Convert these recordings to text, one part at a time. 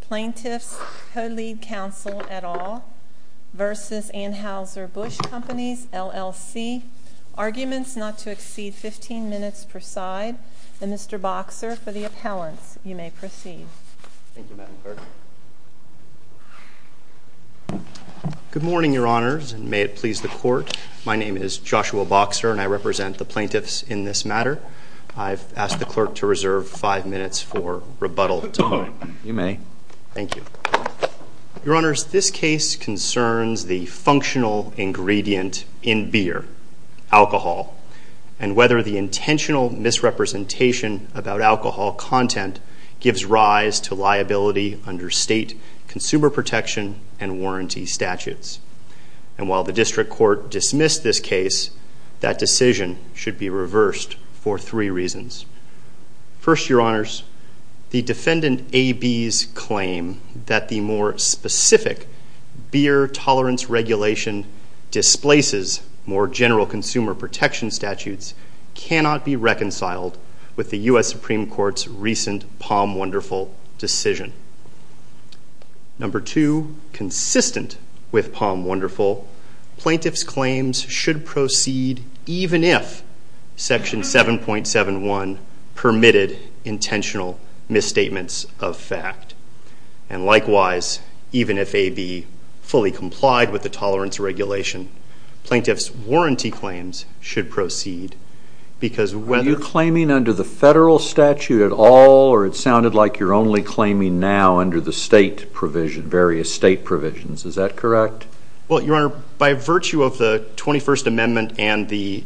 Plaintiffs' Co-Lead Counsel et al. v. Anheuser-Busch Companies, LLC, Arguments Not to Exceed Fifteen Minutes per Side, and Mr. Boxer for the appellants. You may proceed. Thank you, Madam Clerk. Good morning, Your Honors, and may it please the Court. My name is Joshua Boxer, and I represent the plaintiffs in this matter. I've asked the Clerk to reserve five minutes for rebuttal. You may. Thank you. Your Honors, this case concerns the functional ingredient in beer, alcohol, and whether the intentional misrepresentation about alcohol content gives rise to liability under state consumer protection and warranty statutes. And while the District Court dismissed this case, that decision should be reversed for three reasons. First, Your Honors, the defendant A.B.'s claim that the more specific beer tolerance regulation displaces more general consumer protection statutes cannot be reconciled with the U.S. Supreme Court's recent Palm Wonderful decision. Number two, consistent with Palm Wonderful, plaintiffs' claims should proceed even if Section 7.71 permitted intentional misstatements of fact. And likewise, even if A.B. fully complied with the tolerance regulation, plaintiffs' warranty claims should proceed because whether... Or it sounded like you're only claiming now under the state provision, various state provisions. Is that correct? Well, Your Honor, by virtue of the 21st Amendment and the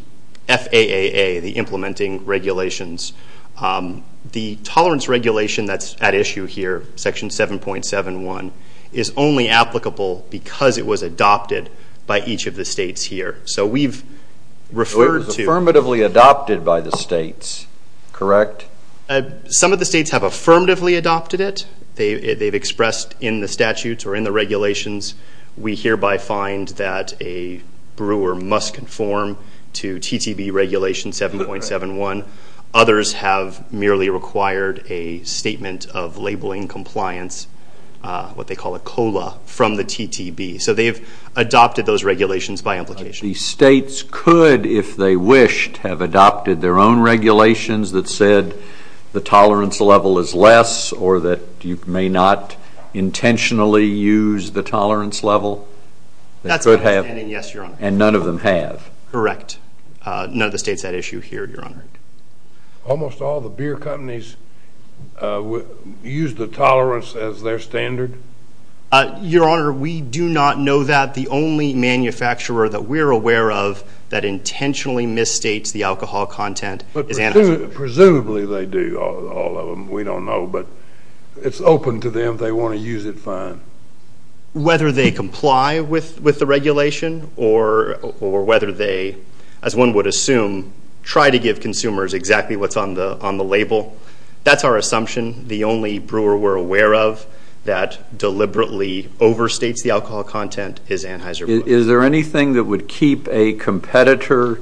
FAAA, the implementing regulations, the tolerance regulation that's at issue here, Section 7.71, is only applicable because it was adopted by each of the states here. So we've referred to... So it was affirmatively adopted by the states, correct? Some of the states have affirmatively adopted it. They've expressed in the statutes or in the regulations, we hereby find that a brewer must conform to TTB regulation 7.71. Others have merely required a statement of labeling compliance, what they call a COLA, from the TTB. So they've adopted those regulations by implication. The states could, if they wished, have adopted their own regulations that said the tolerance level is less or that you may not intentionally use the tolerance level? That's my understanding, yes, Your Honor. And none of them have? Correct. None of the states had issue here, Your Honor. Almost all the beer companies use the tolerance as their standard? Your Honor, we do not know that. The only manufacturer that we're aware of that intentionally misstates the alcohol content is Anheuser-Busch. But presumably they do, all of them. We don't know, but it's open to them. They want to use it, fine. Whether they comply with the regulation or whether they, as one would assume, try to give consumers exactly what's on the label, that's our assumption. The only brewer we're aware of that deliberately overstates the alcohol content is Anheuser-Busch. Is there anything that would keep a competitor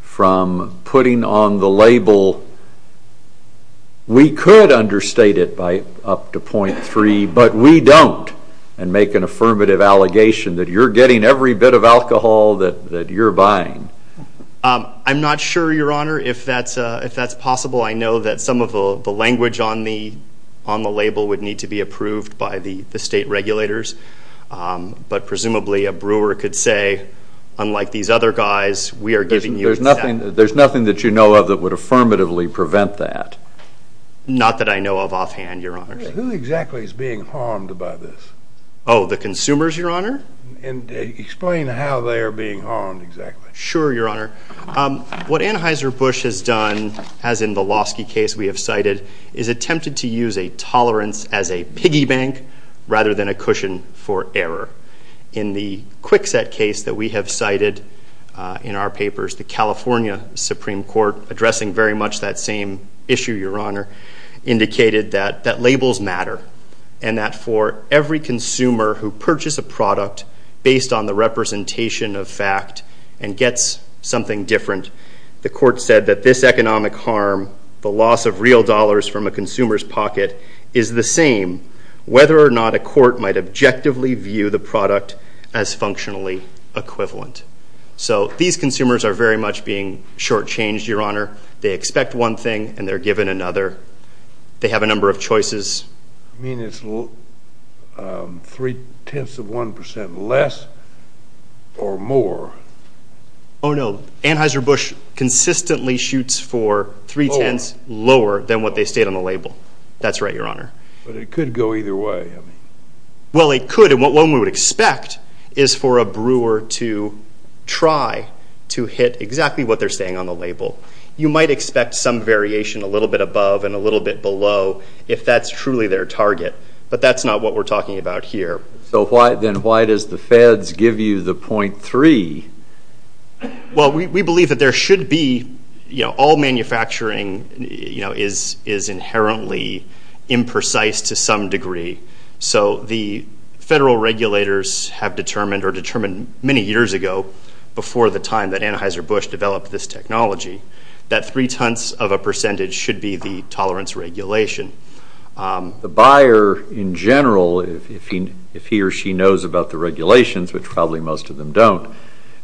from putting on the label, we could understate it by up to .3, but we don't, and make an affirmative allegation that you're getting every bit of alcohol that you're buying? I'm not sure, Your Honor, if that's possible. I know that some of the language on the label would need to be approved by the state regulators, but presumably a brewer could say, unlike these other guys, we are giving you exactly. There's nothing that you know of that would affirmatively prevent that? Not that I know of offhand, Your Honor. Who exactly is being harmed by this? Oh, the consumers, Your Honor? Explain how they are being harmed exactly. Sure, Your Honor. What Anheuser-Busch has done, as in the Losky case we have cited, is attempted to use a tolerance as a piggy bank rather than a cushion for error. In the Kwikset case that we have cited in our papers, the California Supreme Court, addressing very much that same issue, Your Honor, indicated that labels matter and that for every consumer who purchases a product based on the representation of fact and gets something different, the court said that this economic harm, the loss of real dollars from a consumer's pocket, is the same whether or not a court might objectively view the product as functionally equivalent. So these consumers are very much being shortchanged, Your Honor. They expect one thing and they're given another. They have a number of choices. You mean it's three-tenths of one percent less or more? Oh, no. Anheuser-Busch consistently shoots for three-tenths lower than what they state on the label. That's right, Your Honor. But it could go either way. Well, it could, and what one would expect is for a brewer to try to hit exactly what they're saying on the label. You might expect some variation a little bit above and a little bit below. If that's truly their target. But that's not what we're talking about here. So then why does the feds give you the .3? Well, we believe that there should be, you know, all manufacturing is inherently imprecise to some degree. So the federal regulators have determined or determined many years ago, before the time that Anheuser-Busch developed this technology, that three-tenths of a percentage should be the tolerance regulation. The buyer, in general, if he or she knows about the regulations, which probably most of them don't,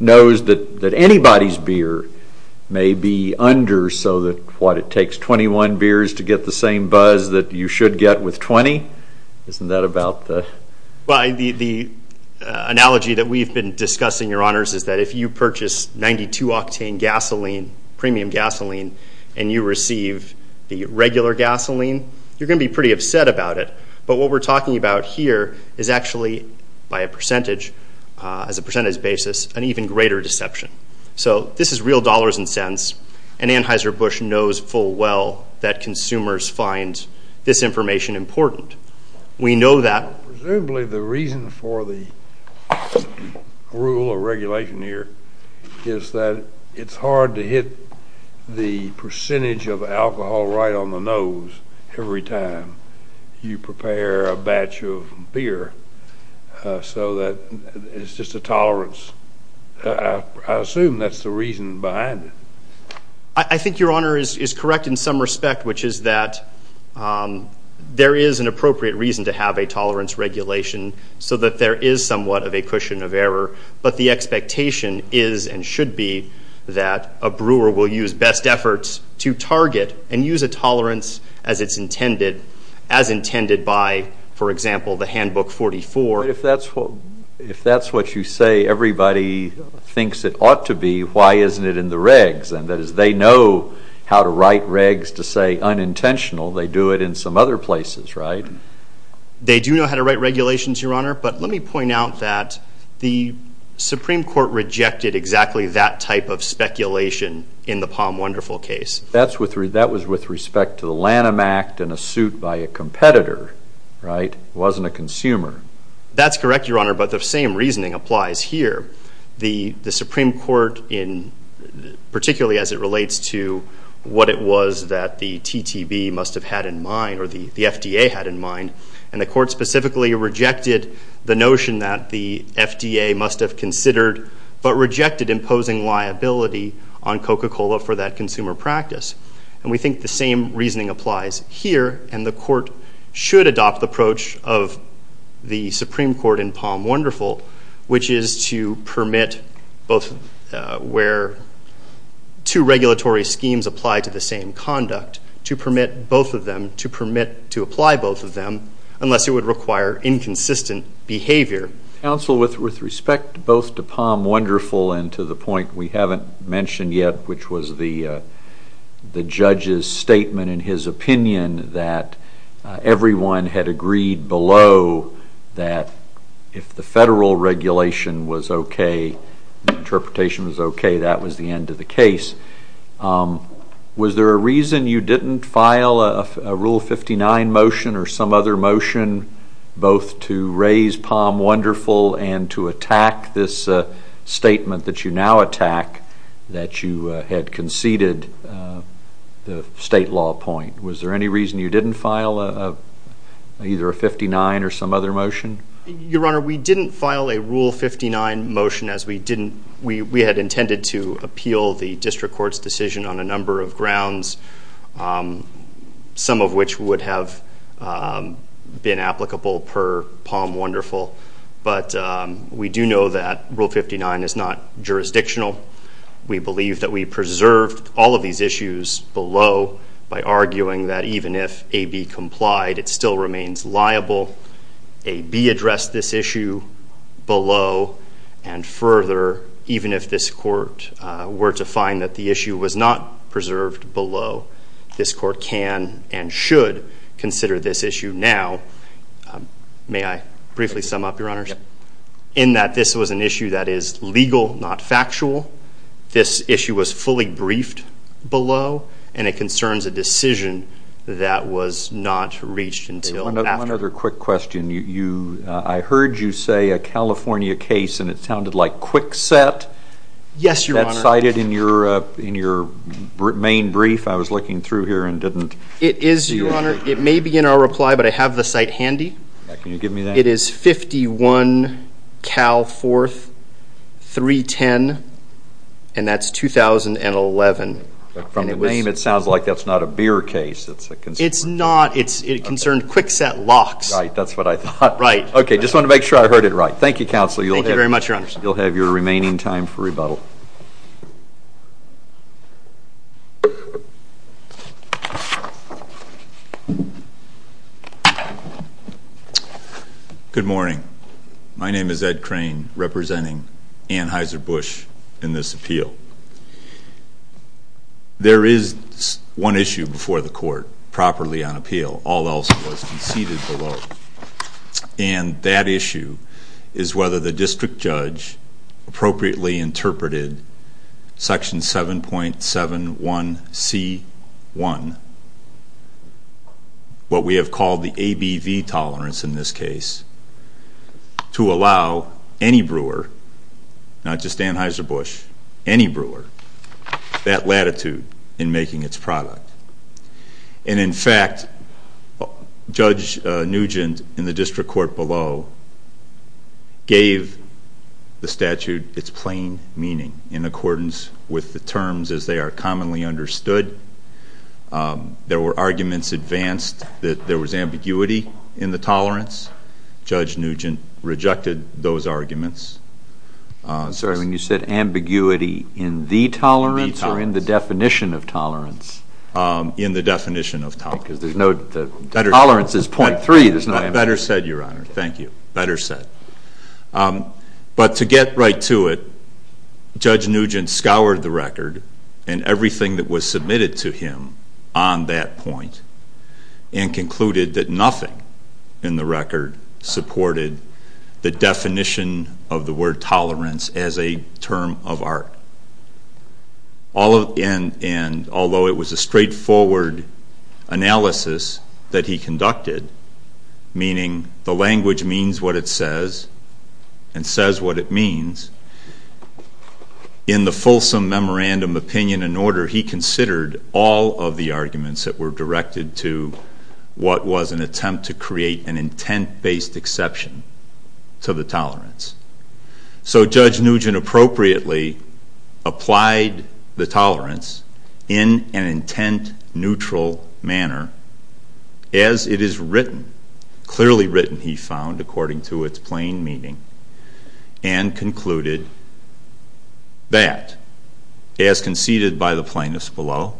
knows that anybody's beer may be under so that what, it takes 21 beers to get the same buzz that you should get with 20? Isn't that about the? Well, the analogy that we've been discussing, your honors, is that if you purchase 92-octane gasoline, premium gasoline, and you receive the regular gasoline, you're going to be pretty upset about it. But what we're talking about here is actually, by a percentage, as a percentage basis, an even greater deception. So this is real dollars and cents, and Anheuser-Busch knows full well that consumers find this information important. We know that. Presumably the reason for the rule or regulation here is that it's hard to hit the percentage of alcohol right on the nose every time you prepare a batch of beer, so that it's just a tolerance. I assume that's the reason behind it. I think your honor is correct in some respect, which is that there is an appropriate reason to have a tolerance regulation so that there is somewhat of a cushion of error. But the expectation is and should be that a brewer will use best efforts to target and use a tolerance as it's intended, as intended by, for example, the Handbook 44. But if that's what you say everybody thinks it ought to be, why isn't it in the regs? And that is they know how to write regs to say unintentional. They do it in some other places, right? They do know how to write regulations, your honor. But let me point out that the Supreme Court rejected exactly that type of speculation in the Palm Wonderful case. That was with respect to the Lanham Act and a suit by a competitor, right? It wasn't a consumer. That's correct, your honor, but the same reasoning applies here. The Supreme Court, particularly as it relates to what it was that the TTV must have had in mind, or the FDA had in mind, and the court specifically rejected the notion that the FDA must have considered but rejected imposing liability on Coca-Cola for that consumer practice. And we think the same reasoning applies here, and the court should adopt the approach of the Supreme Court in Palm Wonderful, which is to permit both where two regulatory schemes apply to the same conduct, to permit both of them to permit to apply both of them unless it would require inconsistent behavior. Counsel, with respect both to Palm Wonderful and to the point we haven't mentioned yet, which was the judge's statement in his opinion that everyone had agreed below that if the federal regulation was okay, the interpretation was okay, that was the end of the case. Was there a reason you didn't file a Rule 59 motion or some other motion both to raise Palm Wonderful and to attack this statement that you now attack that you had conceded the state law point? Was there any reason you didn't file either a 59 or some other motion? Your honor, we didn't file a Rule 59 motion as we didn't. We had intended to appeal the district court's decision on a number of grounds, some of which would have been applicable per Palm Wonderful. But we do know that Rule 59 is not jurisdictional. We believe that we preserved all of these issues below by arguing that even if AB complied, it still remains liable. AB addressed this issue below, and further, even if this court were to find that the issue was not preserved below, this court can and should consider this issue now. May I briefly sum up, your honors? In that this was an issue that is legal, not factual. This issue was fully briefed below, and it concerns a decision that was not reached until after. One other quick question. I heard you say a California case, and it sounded like Kwikset. Yes, your honor. That's cited in your main brief. I was looking through here and didn't see it. It is, your honor. It may be in our reply, but I have the site handy. Can you give me that? It is 51 Cal 4th 310, and that's 2011. From the name, it sounds like that's not a beer case. It's a concern. It's not. It concerned Kwikset locks. Right, that's what I thought. Right. Okay, just wanted to make sure I heard it right. Thank you, counsel. Thank you very much, your honors. You'll have your remaining time for rebuttal. Good morning. My name is Ed Crane, representing Anheuser-Busch in this appeal. There is one issue before the court, properly on appeal. All else was conceded below. And that issue is whether the district judge appropriately interpreted Section 7.71C1, what we have called the ABV tolerance in this case, to allow any brewer, not just Anheuser-Busch, any brewer, that latitude in making its product. And, in fact, Judge Nugent in the district court below gave the statute its plain meaning in accordance with the terms as they are commonly understood. There were arguments advanced that there was ambiguity in the tolerance. Judge Nugent rejected those arguments. I'm sorry. When you said ambiguity in the tolerance or in the definition of tolerance? In the definition of tolerance. Because there's no tolerance is .3. Better said, your honor. Thank you. Better said. But to get right to it, Judge Nugent scoured the record and everything that was submitted to him on that point and concluded that nothing in the record supported the definition of the word tolerance as a term of art. And although it was a straightforward analysis that he conducted, meaning the language means what it says and says what it means, in the fulsome memorandum opinion and order he considered all of the arguments that were directed to what was an attempt to create an intent-based exception to the tolerance. So Judge Nugent appropriately applied the tolerance in an intent-neutral manner as it is written, clearly written, he found, according to its plain meaning and concluded that, as conceded by the plaintiffs below,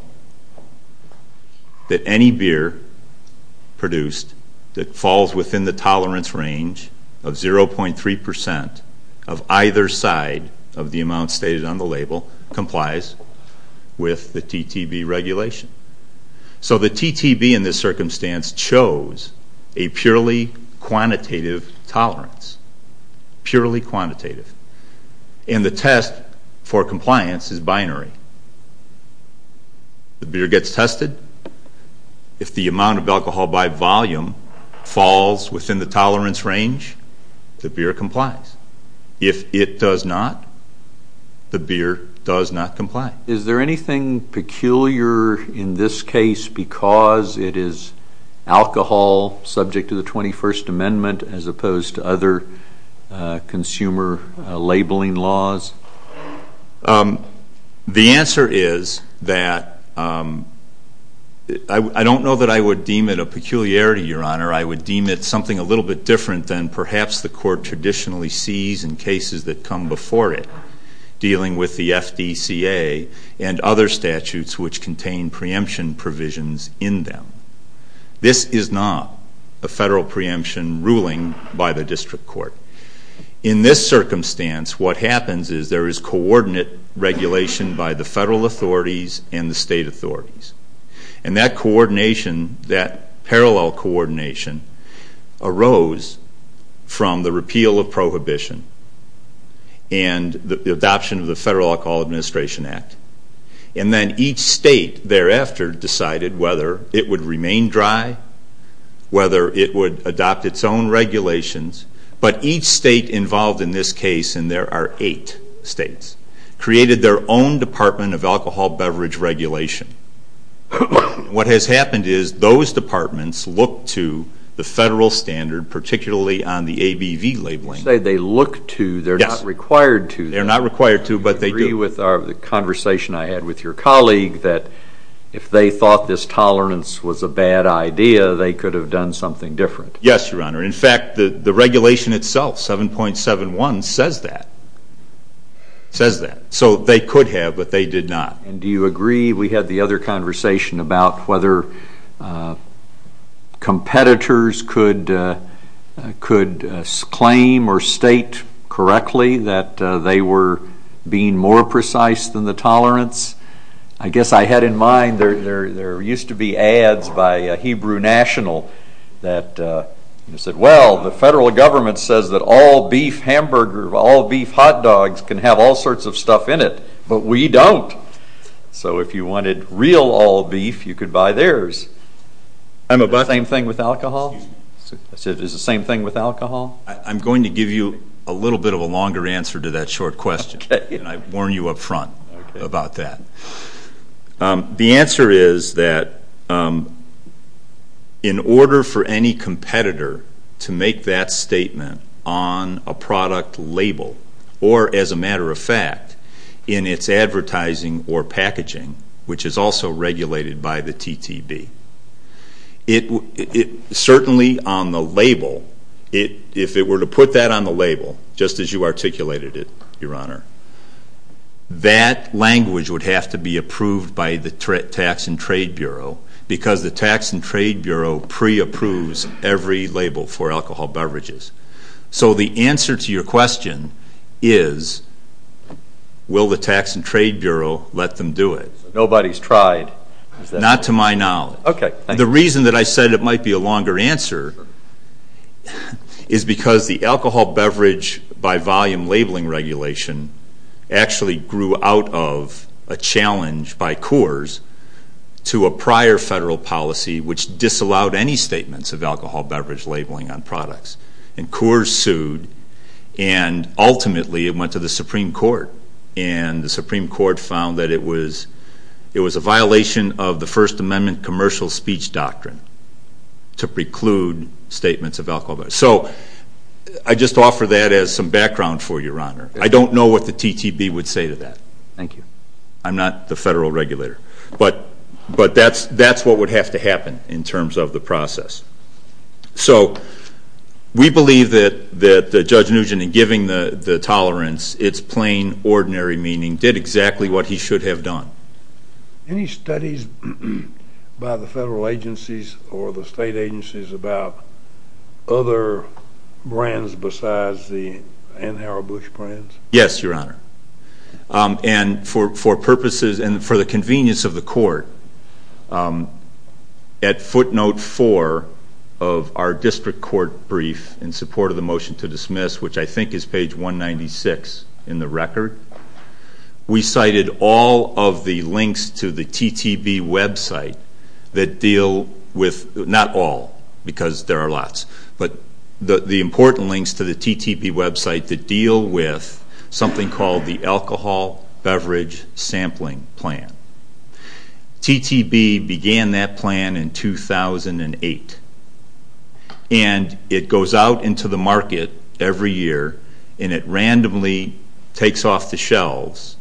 that any beer produced that falls within the tolerance range of 0.3% of either side of the amount stated on the label complies with the TTB regulation. So the TTB in this circumstance chose a purely quantitative tolerance, purely quantitative. And the test for compliance is binary. The beer gets tested. If the amount of alcohol by volume falls within the tolerance range, the beer complies. If it does not, the beer does not comply. Is there anything peculiar in this case because it is alcohol subject to the 21st Amendment as opposed to other consumer labeling laws? The answer is that I don't know that I would deem it a peculiarity, Your Honor. I would deem it something a little bit different than perhaps the Court traditionally sees in cases that come before it dealing with the FDCA and other statutes which contain preemption provisions in them. This is not a federal preemption ruling by the district court. In this circumstance, what happens is there is coordinate regulation by the federal authorities and the state authorities. And that parallel coordination arose from the repeal of prohibition and the adoption of the Federal Alcohol Administration Act. And then each state thereafter decided whether it would remain dry, whether it would adopt its own regulations. But each state involved in this case, and there are eight states, created their own Department of Alcohol Beverage Regulation. What has happened is those departments look to the federal standard, particularly on the ABV labeling. You say they look to, they're not required to. They're not required to, but they do. Do you agree with the conversation I had with your colleague that if they thought this tolerance was a bad idea, they could have done something different? Yes, Your Honor. In fact, the regulation itself, 7.71, says that. It says that. So they could have, but they did not. And do you agree we had the other conversation about whether competitors could claim or state correctly that they were being more precise than the tolerance? I guess I had in mind there used to be ads by Hebrew National that said, well, the federal government says that all beef hamburger, all beef hot dogs can have all sorts of stuff in it, but we don't. So if you wanted real all beef, you could buy theirs. Is it the same thing with alcohol? I'm going to give you a little bit of a longer answer to that short question, and I warn you up front about that. The answer is that in order for any competitor to make that statement on a product label or, as a matter of fact, in its advertising or packaging, which is also regulated by the TTB, certainly on the label, if it were to put that on the label, just as you articulated it, Your Honor, that language would have to be approved by the Tax and Trade Bureau because the Tax and Trade Bureau pre-approves every label for alcohol beverages. So the answer to your question is, will the Tax and Trade Bureau let them do it? Nobody's tried. Not to my knowledge. Okay. The reason that I said it might be a longer answer is because the alcohol beverage by volume labeling regulation actually grew out of a challenge by Coors to a prior federal policy which disallowed any statements of alcohol beverage labeling on products. And Coors sued, and ultimately it went to the Supreme Court, and the Supreme Court found that it was a violation of the First Amendment commercial speech doctrine to preclude statements of alcohol beverage. So I just offer that as some background for you, Your Honor. I don't know what the TTB would say to that. Thank you. I'm not the federal regulator. But that's what would have to happen in terms of the process. So we believe that Judge Nugent, in giving the tolerance its plain, ordinary meaning, did exactly what he should have done. Any studies by the federal agencies or the state agencies about other brands besides the Ann Hara Bush brands? Yes, Your Honor. And for purposes and for the convenience of the court, at footnote four of our district court brief in support of the motion to dismiss, which I think is page 196 in the record, we cited all of the links to the TTB website that deal with, not all, because there are lots, but the important links to the TTB website that deal with something called the Alcohol Beverage Sampling Plan. TTB began that plan in 2008. And it goes out into the market every year, and it randomly takes off the shelves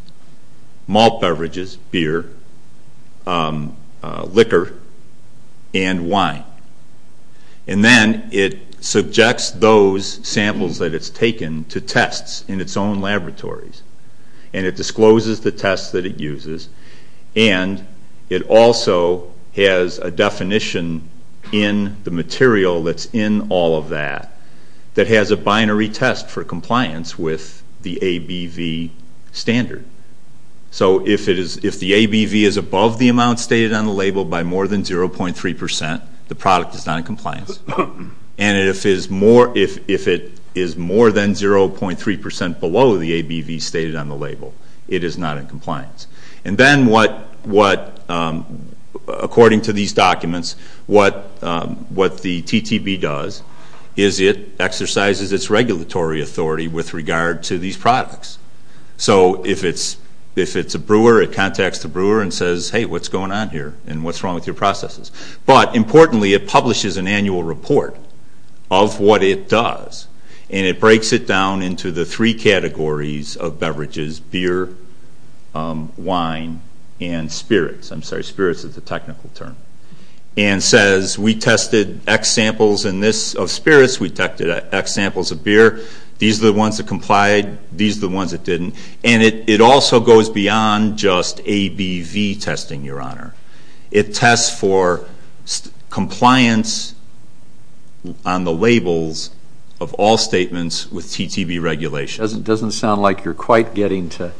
malt beverages, beer, liquor, and wine. And then it subjects those samples that it's taken to tests in its own laboratories. And it discloses the tests that it uses. And it also has a definition in the material that's in all of that that has a binary test for compliance with the ABV standard. So if the ABV is above the amount stated on the label by more than 0.3 percent, the product is not in compliance. And if it is more than 0.3 percent below the ABV stated on the label, it is not in compliance. And then what, according to these documents, what the TTB does is it exercises its regulatory authority with regard to these products. So if it's a brewer, it contacts the brewer and says, hey, what's going on here, and what's wrong with your processes? But importantly, it publishes an annual report of what it does. And it breaks it down into the three categories of beverages, beer, wine, and spirits. I'm sorry, spirits is a technical term. And says we tested X samples of spirits, we tested X samples of beer. These are the ones that complied, these are the ones that didn't. And it also goes beyond just ABV testing, Your Honor. It tests for compliance on the labels of all statements with TTB regulation. It doesn't sound like you're quite getting to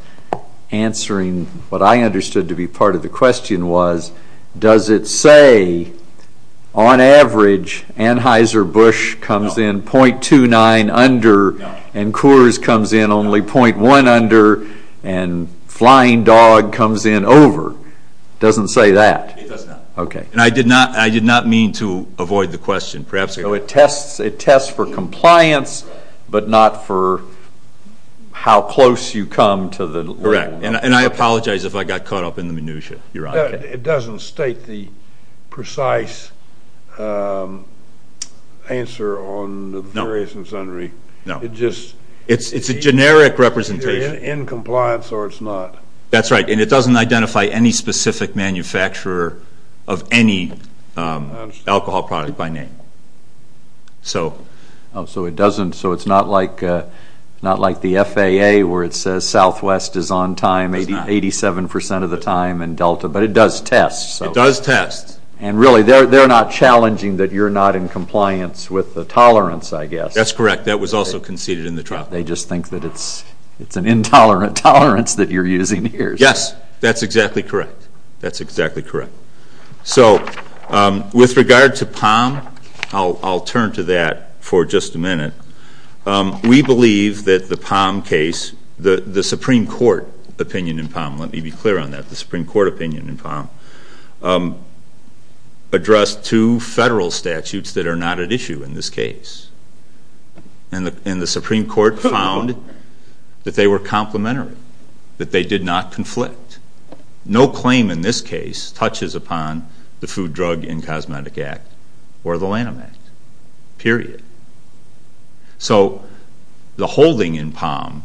answering what I understood to be part of the question was, does it say on average Anheuser-Busch comes in 0.29 under and Coors comes in only 0.1 under and Flying Dog comes in over? It doesn't say that. It does not. Okay. And I did not mean to avoid the question. So it tests for compliance, but not for how close you come to the label. Correct. And I apologize if I got caught up in the minutiae, Your Honor. It doesn't state the precise answer on the various and sundry. No. It's a generic representation. It's either in compliance or it's not. That's right. And it doesn't identify any specific manufacturer of any alcohol product by name. So it doesn't. So it's not like the FAA where it says Southwest is on time 87% of the time and Delta, but it does test. It does test. And really they're not challenging that you're not in compliance with the tolerance, I guess. That's correct. That was also conceded in the trial. They just think that it's an intolerant tolerance that you're using here. Yes. That's exactly correct. That's exactly correct. So with regard to POM, I'll turn to that for just a minute. We believe that the POM case, the Supreme Court opinion in POM, let me be clear on that, the Supreme Court opinion in POM, addressed two federal statutes that are not at issue in this case. And the Supreme Court found that they were complementary, that they did not conflict. No claim in this case touches upon the Food, Drug, and Cosmetic Act or the Lanham Act. Period. So the holding in POM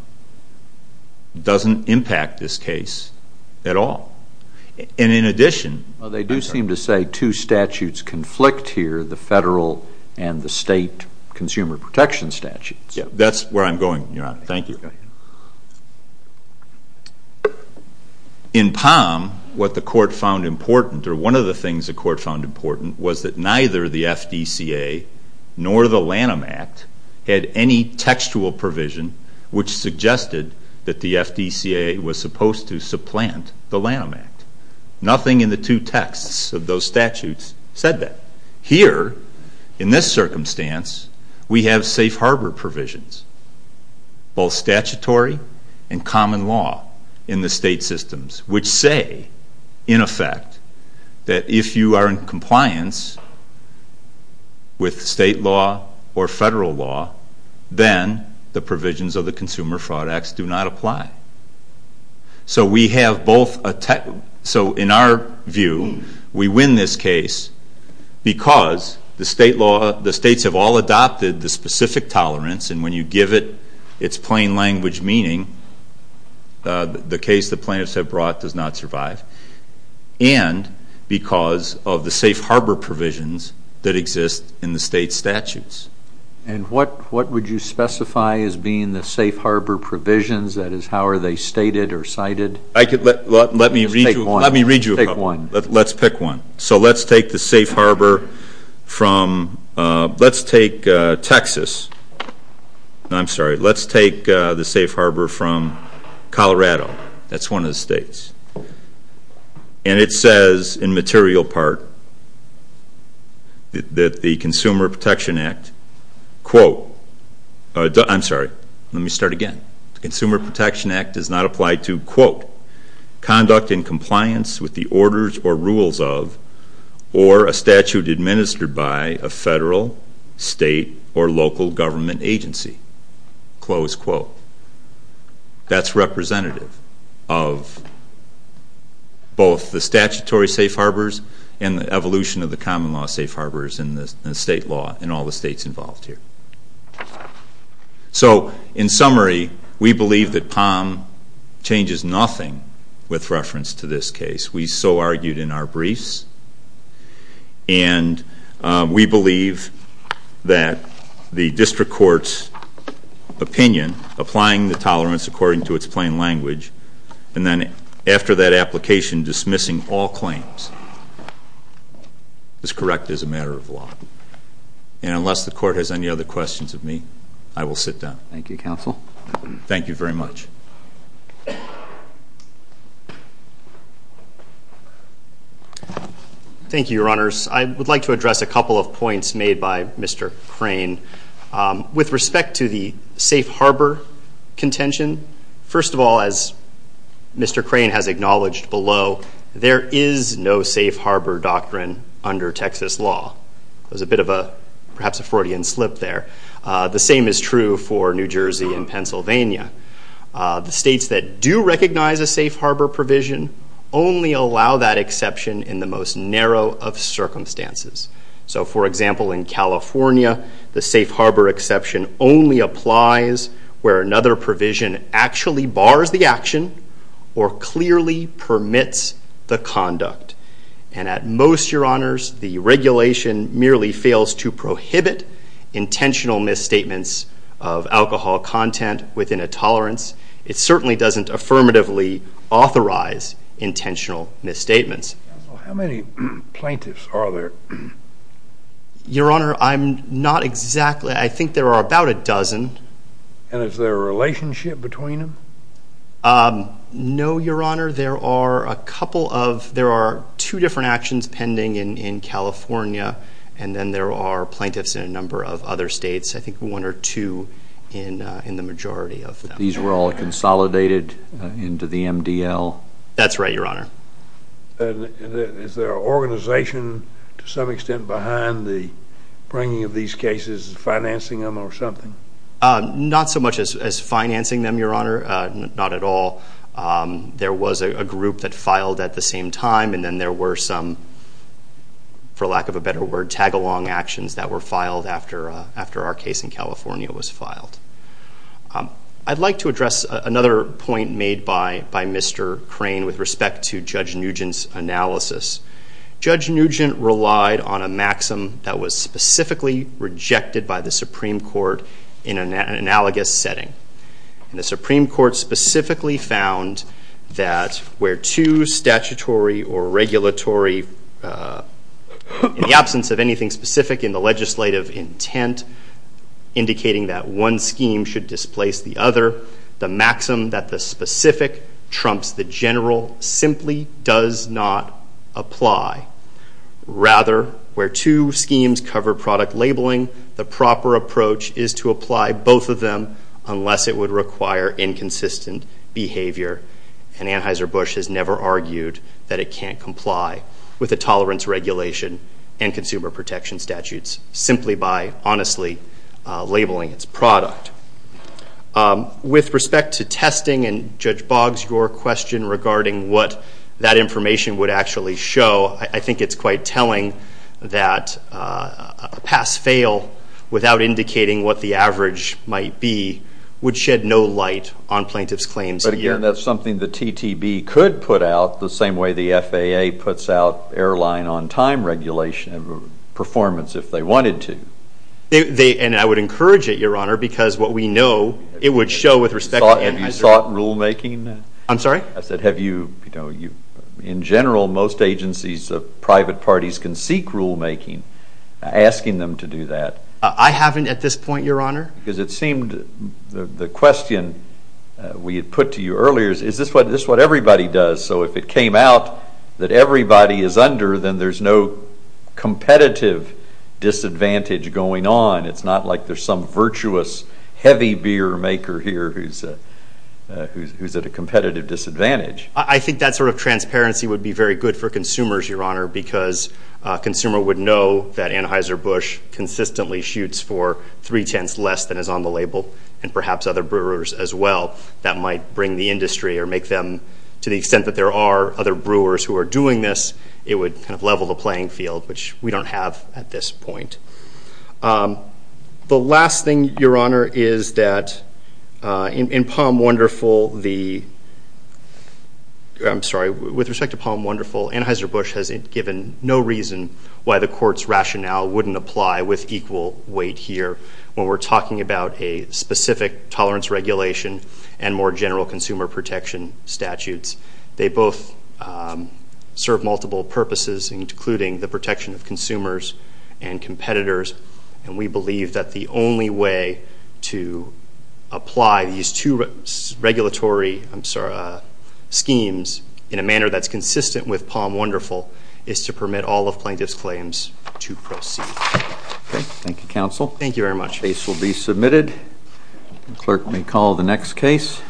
doesn't impact this case at all. And in addition, Well, they do seem to say two statutes conflict here, the federal and the state consumer protection statutes. That's where I'm going, Your Honor. Thank you. In POM, what the court found important, or one of the things the court found important, was that neither the FDCA nor the Lanham Act had any textual provision which suggested that the FDCA was supposed to supplant the Lanham Act. Nothing in the two texts of those statutes said that. Here, in this circumstance, we have safe harbor provisions, both statutory and common law in the state systems, which say, in effect, that if you are in compliance with state law or federal law, then the provisions of the Consumer Fraud Act do not apply. So in our view, we win this case because the states have all adopted the specific tolerance, and when you give it its plain language meaning, the case the plaintiffs have brought does not survive, and because of the safe harbor provisions that exist in the state statutes. And what would you specify as being the safe harbor provisions? That is, how are they stated or cited? Let me read you a couple. Let's pick one. So let's take the safe harbor from Texas. I'm sorry. Let's take the safe harbor from Colorado. That's one of the states. And it says, in material part, that the Consumer Protection Act, quote, I'm sorry. Let me start again. The Consumer Protection Act does not apply to, quote, conduct in compliance with the orders or rules of or a statute administered by a federal, state, or local government agency, close quote. That's representative of both the statutory safe harbors and the evolution of the common law safe harbors in the state law in all the states involved here. So in summary, we believe that POM changes nothing with reference to this case. We so argued in our briefs. And we believe that the district court's opinion, applying the tolerance according to its plain language, and then after that application dismissing all claims, is correct as a matter of law. And unless the court has any other questions of me, I will sit down. Thank you, counsel. Thank you very much. Thank you, Your Honors. I would like to address a couple of points made by Mr. Crane. With respect to the safe harbor contention, first of all, as Mr. Crane has acknowledged below, there is no safe harbor doctrine under Texas law. There's a bit of a, perhaps, a Freudian slip there. The same is true for New Jersey and Pennsylvania. The states that do recognize a safe harbor provision only allow that exception in the most narrow of circumstances. So, for example, in California, the safe harbor exception only applies where another provision actually bars the action or clearly permits the conduct. And at most, Your Honors, the regulation merely fails to prohibit intentional misstatements of alcohol content within a tolerance. It certainly doesn't affirmatively authorize intentional misstatements. Counsel, how many plaintiffs are there? Your Honor, I'm not exactly – I think there are about a dozen. And is there a relationship between them? No, Your Honor. There are a couple of – there are two different actions pending in California, and then there are plaintiffs in a number of other states, I think one or two in the majority of them. These were all consolidated into the MDL? That's right, Your Honor. And is there an organization to some extent behind the bringing of these cases, financing them or something? Not so much as financing them, Your Honor, not at all. There was a group that filed at the same time, and then there were some, for lack of a better word, tag-along actions that were filed after our case in California was filed. I'd like to address another point made by Mr. Crane with respect to Judge Nugent's analysis. Judge Nugent relied on a maxim that was specifically rejected by the Supreme Court in an analogous setting. And the Supreme Court specifically found that where two statutory or regulatory – in the absence of anything specific in the legislative intent indicating that one scheme should displace the other, the maxim that the specific trumps the general simply does not apply. Rather, where two schemes cover product labeling, the proper approach is to apply both of them unless it would require inconsistent behavior. And Anheuser-Busch has never argued that it can't comply with the tolerance regulation and consumer protection statutes simply by honestly labeling its product. With respect to testing, and Judge Boggs, your question regarding what that information would actually show, I think it's quite telling that a pass-fail without indicating what the average might be would shed no light on plaintiff's claims here. And that's something the TTB could put out the same way the FAA puts out airline on time regulation performance if they wanted to. And I would encourage it, Your Honor, because what we know, it would show with respect to Anheuser-Busch. Have you sought rulemaking? I'm sorry? I said, have you – in general, most agencies, private parties can seek rulemaking. Asking them to do that. I haven't at this point, Your Honor. Because it seemed the question we had put to you earlier is, is this what everybody does? So if it came out that everybody is under, then there's no competitive disadvantage going on. It's not like there's some virtuous heavy beer maker here who's at a competitive disadvantage. I think that sort of transparency would be very good for consumers, Your Honor, because a consumer would know that Anheuser-Busch consistently shoots for three-tenths less than is on the label, and perhaps other brewers as well. That might bring the industry or make them, to the extent that there are other brewers who are doing this, it would kind of level the playing field, which we don't have at this point. The last thing, Your Honor, is that in Palm Wonderful, the – I'm sorry. With respect to Palm Wonderful, Anheuser-Busch has given no reason why the Court's rationale wouldn't apply with equal weight here when we're talking about a specific tolerance regulation and more general consumer protection statutes. They both serve multiple purposes, including the protection of consumers and competitors, and we believe that the only way to apply these two regulatory schemes in a manner that's consistent with Palm Wonderful is to permit all of plaintiffs' claims to proceed. Okay. Thank you, counsel. Thank you very much. The case will be submitted. The clerk may call the next case.